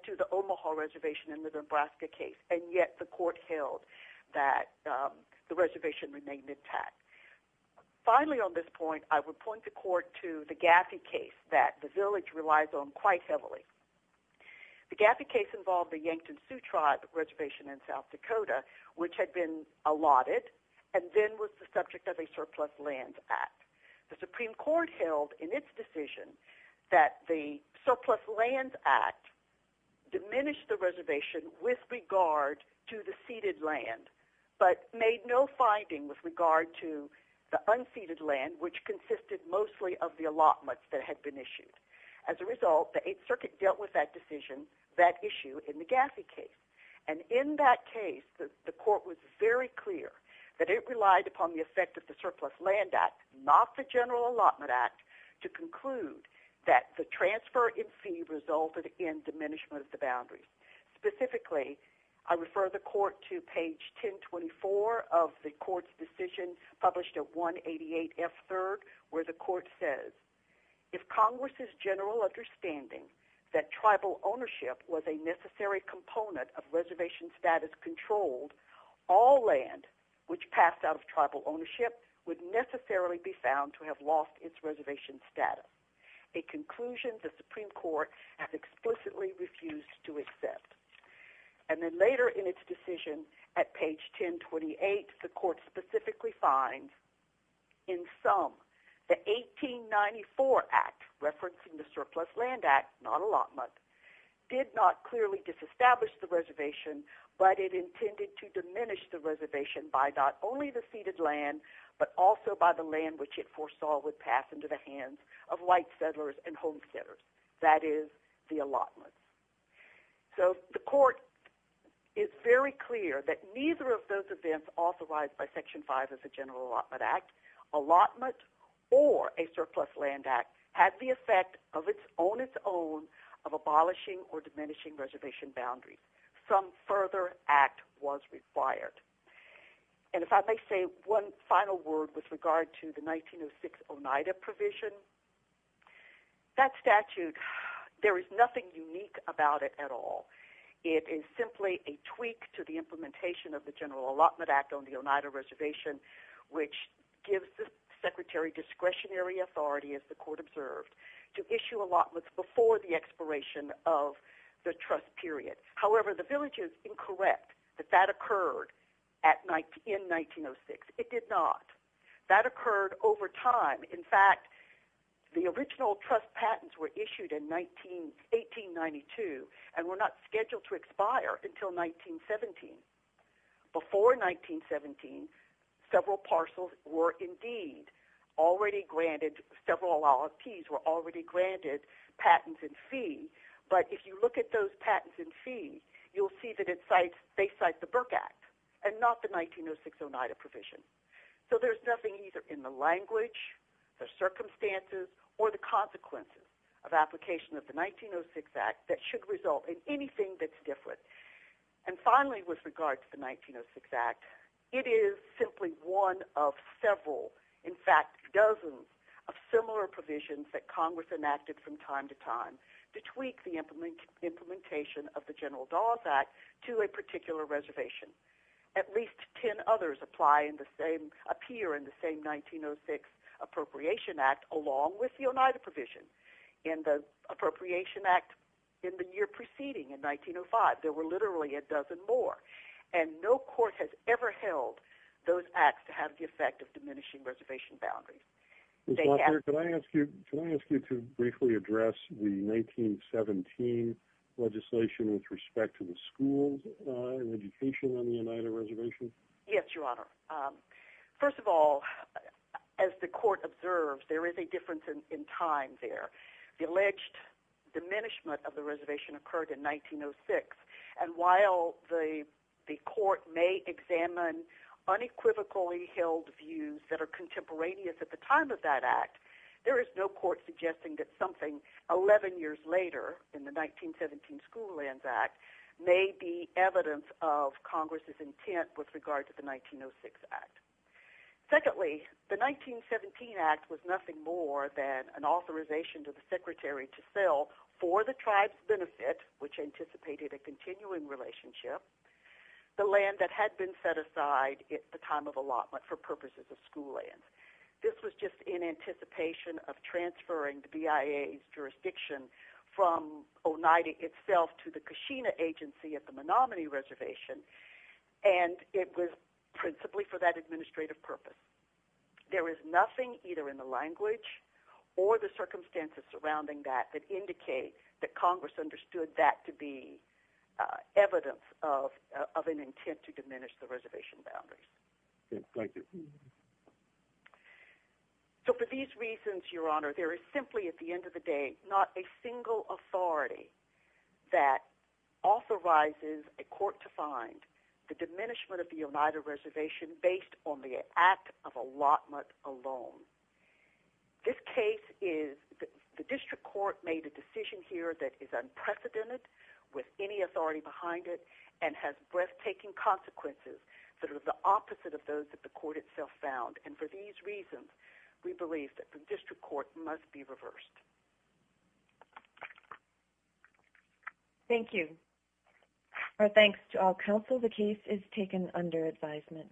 to the Omaha reservation in the Nebraska case and yet the court held that the reservation remained intact. Finally on this point, I would point the court to the Gaffey case that the village relies on quite heavily. The Gaffey case involved the Yankton Sioux Tribe reservation in South Dakota which had been allotted and then was the subject of a surplus lands act. The Supreme Court held in its decision that the surplus lands act diminished the reservation with regard to the ceded land but made no finding with regard to the unceded land which consisted mostly of the allotments that had been issued. As a result, the 8th Circuit dealt with that decision, that issue in the Gaffey case and in that case, the court was very clear that it relied upon the effect of the surplus land act, not the general allotment act, to conclude that the transfer in fee resulted in diminishment of the boundaries. Specifically, I refer the court to page 1024 of the court's decision published at 188 F. 3rd where the court says, if Congress's general understanding that tribal ownership was a necessary component of reservation status controlled, all land which found to have lost its reservation status. A conclusion the Supreme Court has explicitly refused to accept. And then later in its decision at page 1028, the court specifically finds in sum the 1894 act referencing the surplus land act, not allotment, did not clearly disestablish the reservation but it intended to diminish the reservation by not only the ceded land but also by the land which it foresaw would pass into the hands of white settlers and homesteaders, that is, the allotments. So the court is very clear that neither of those events authorized by section 5 of the general allotment act, allotment or a surplus land act, had the effect on its own of abolishing or diminishing reservation boundaries. Some further act was required. And if I may say one final word with regard to the 1906 Oneida provision, that statute, there is nothing unique about it at all. It is simply a tweak to the implementation of the general allotment act on the Oneida reservation which gives the secretary discretionary authority, as the court observed, to issue allotments before the expiration of the trust period. However, the village is incorrect that that occurred in 1906. It did not. That occurred over time. In fact, the original trust patents were issued in 1892 and were not scheduled to expire until 1917. Before 1917, several parcels were indeed already granted, several allottees were already granted patents in fee. But if you look at those patents in fee, you'll see that it cites, they cite the Burke act and not the 1906 Oneida provision. So there's nothing either in the language, the circumstances, or the consequences of application of the 1906 act that should result in anything that's different. And finally, with regard to the 1906 act, it is simply one of several, in fact, dozens of similar provisions that Congress enacted from time to time to tweak the implementation of the general dollars act to a particular reservation. At least 10 others apply in the same, appear in the same 1906 appropriation act along with the Oneida provision. In the appropriation act in the year preceding, in 1905, there were literally a dozen more. And no court has ever held those acts to have the effect of diminishing reservation boundaries. Can I ask you to briefly address the 1917 legislation with respect to the schools and education on the Oneida reservation? Yes, your honor. First of all, as the court observes, there is a difference in time there. The alleged diminishment of the reservation occurred in 1906. And while the court may examine unequivocally held views that are contemporaneous at the time of that act, there is no court suggesting that something 11 years later in the 1917 school lands act may be evidence of Congress's intent with regard to the 1906 act. Secondly, the 1917 act was nothing more than an authorization to the secretary to sell for the tribe's benefit, which anticipated a continuing relationship, the land that had been set aside at the time of allotment for purposes of school lands. This was just in anticipation of transferring the BIA's jurisdiction from Oneida itself to the Kashina agency at the Menominee reservation. And it was principally for that administrative purpose. There is nothing either in the language or the act to be evidence of an intent to diminish the reservation boundaries. Thank you. So for these reasons, your honor, there is simply at the end of the day not a single authority that authorizes a court to find the diminishment of the Oneida reservation based on the act of allotment alone. This case is the district court made a decision here that is unprecedented with any authority behind it and has breathtaking consequences that are the opposite of those that the court itself found. And for these reasons, we believe that the district court must be reversed. Thank you. Our thanks to all counsel. The case is taken under advisement.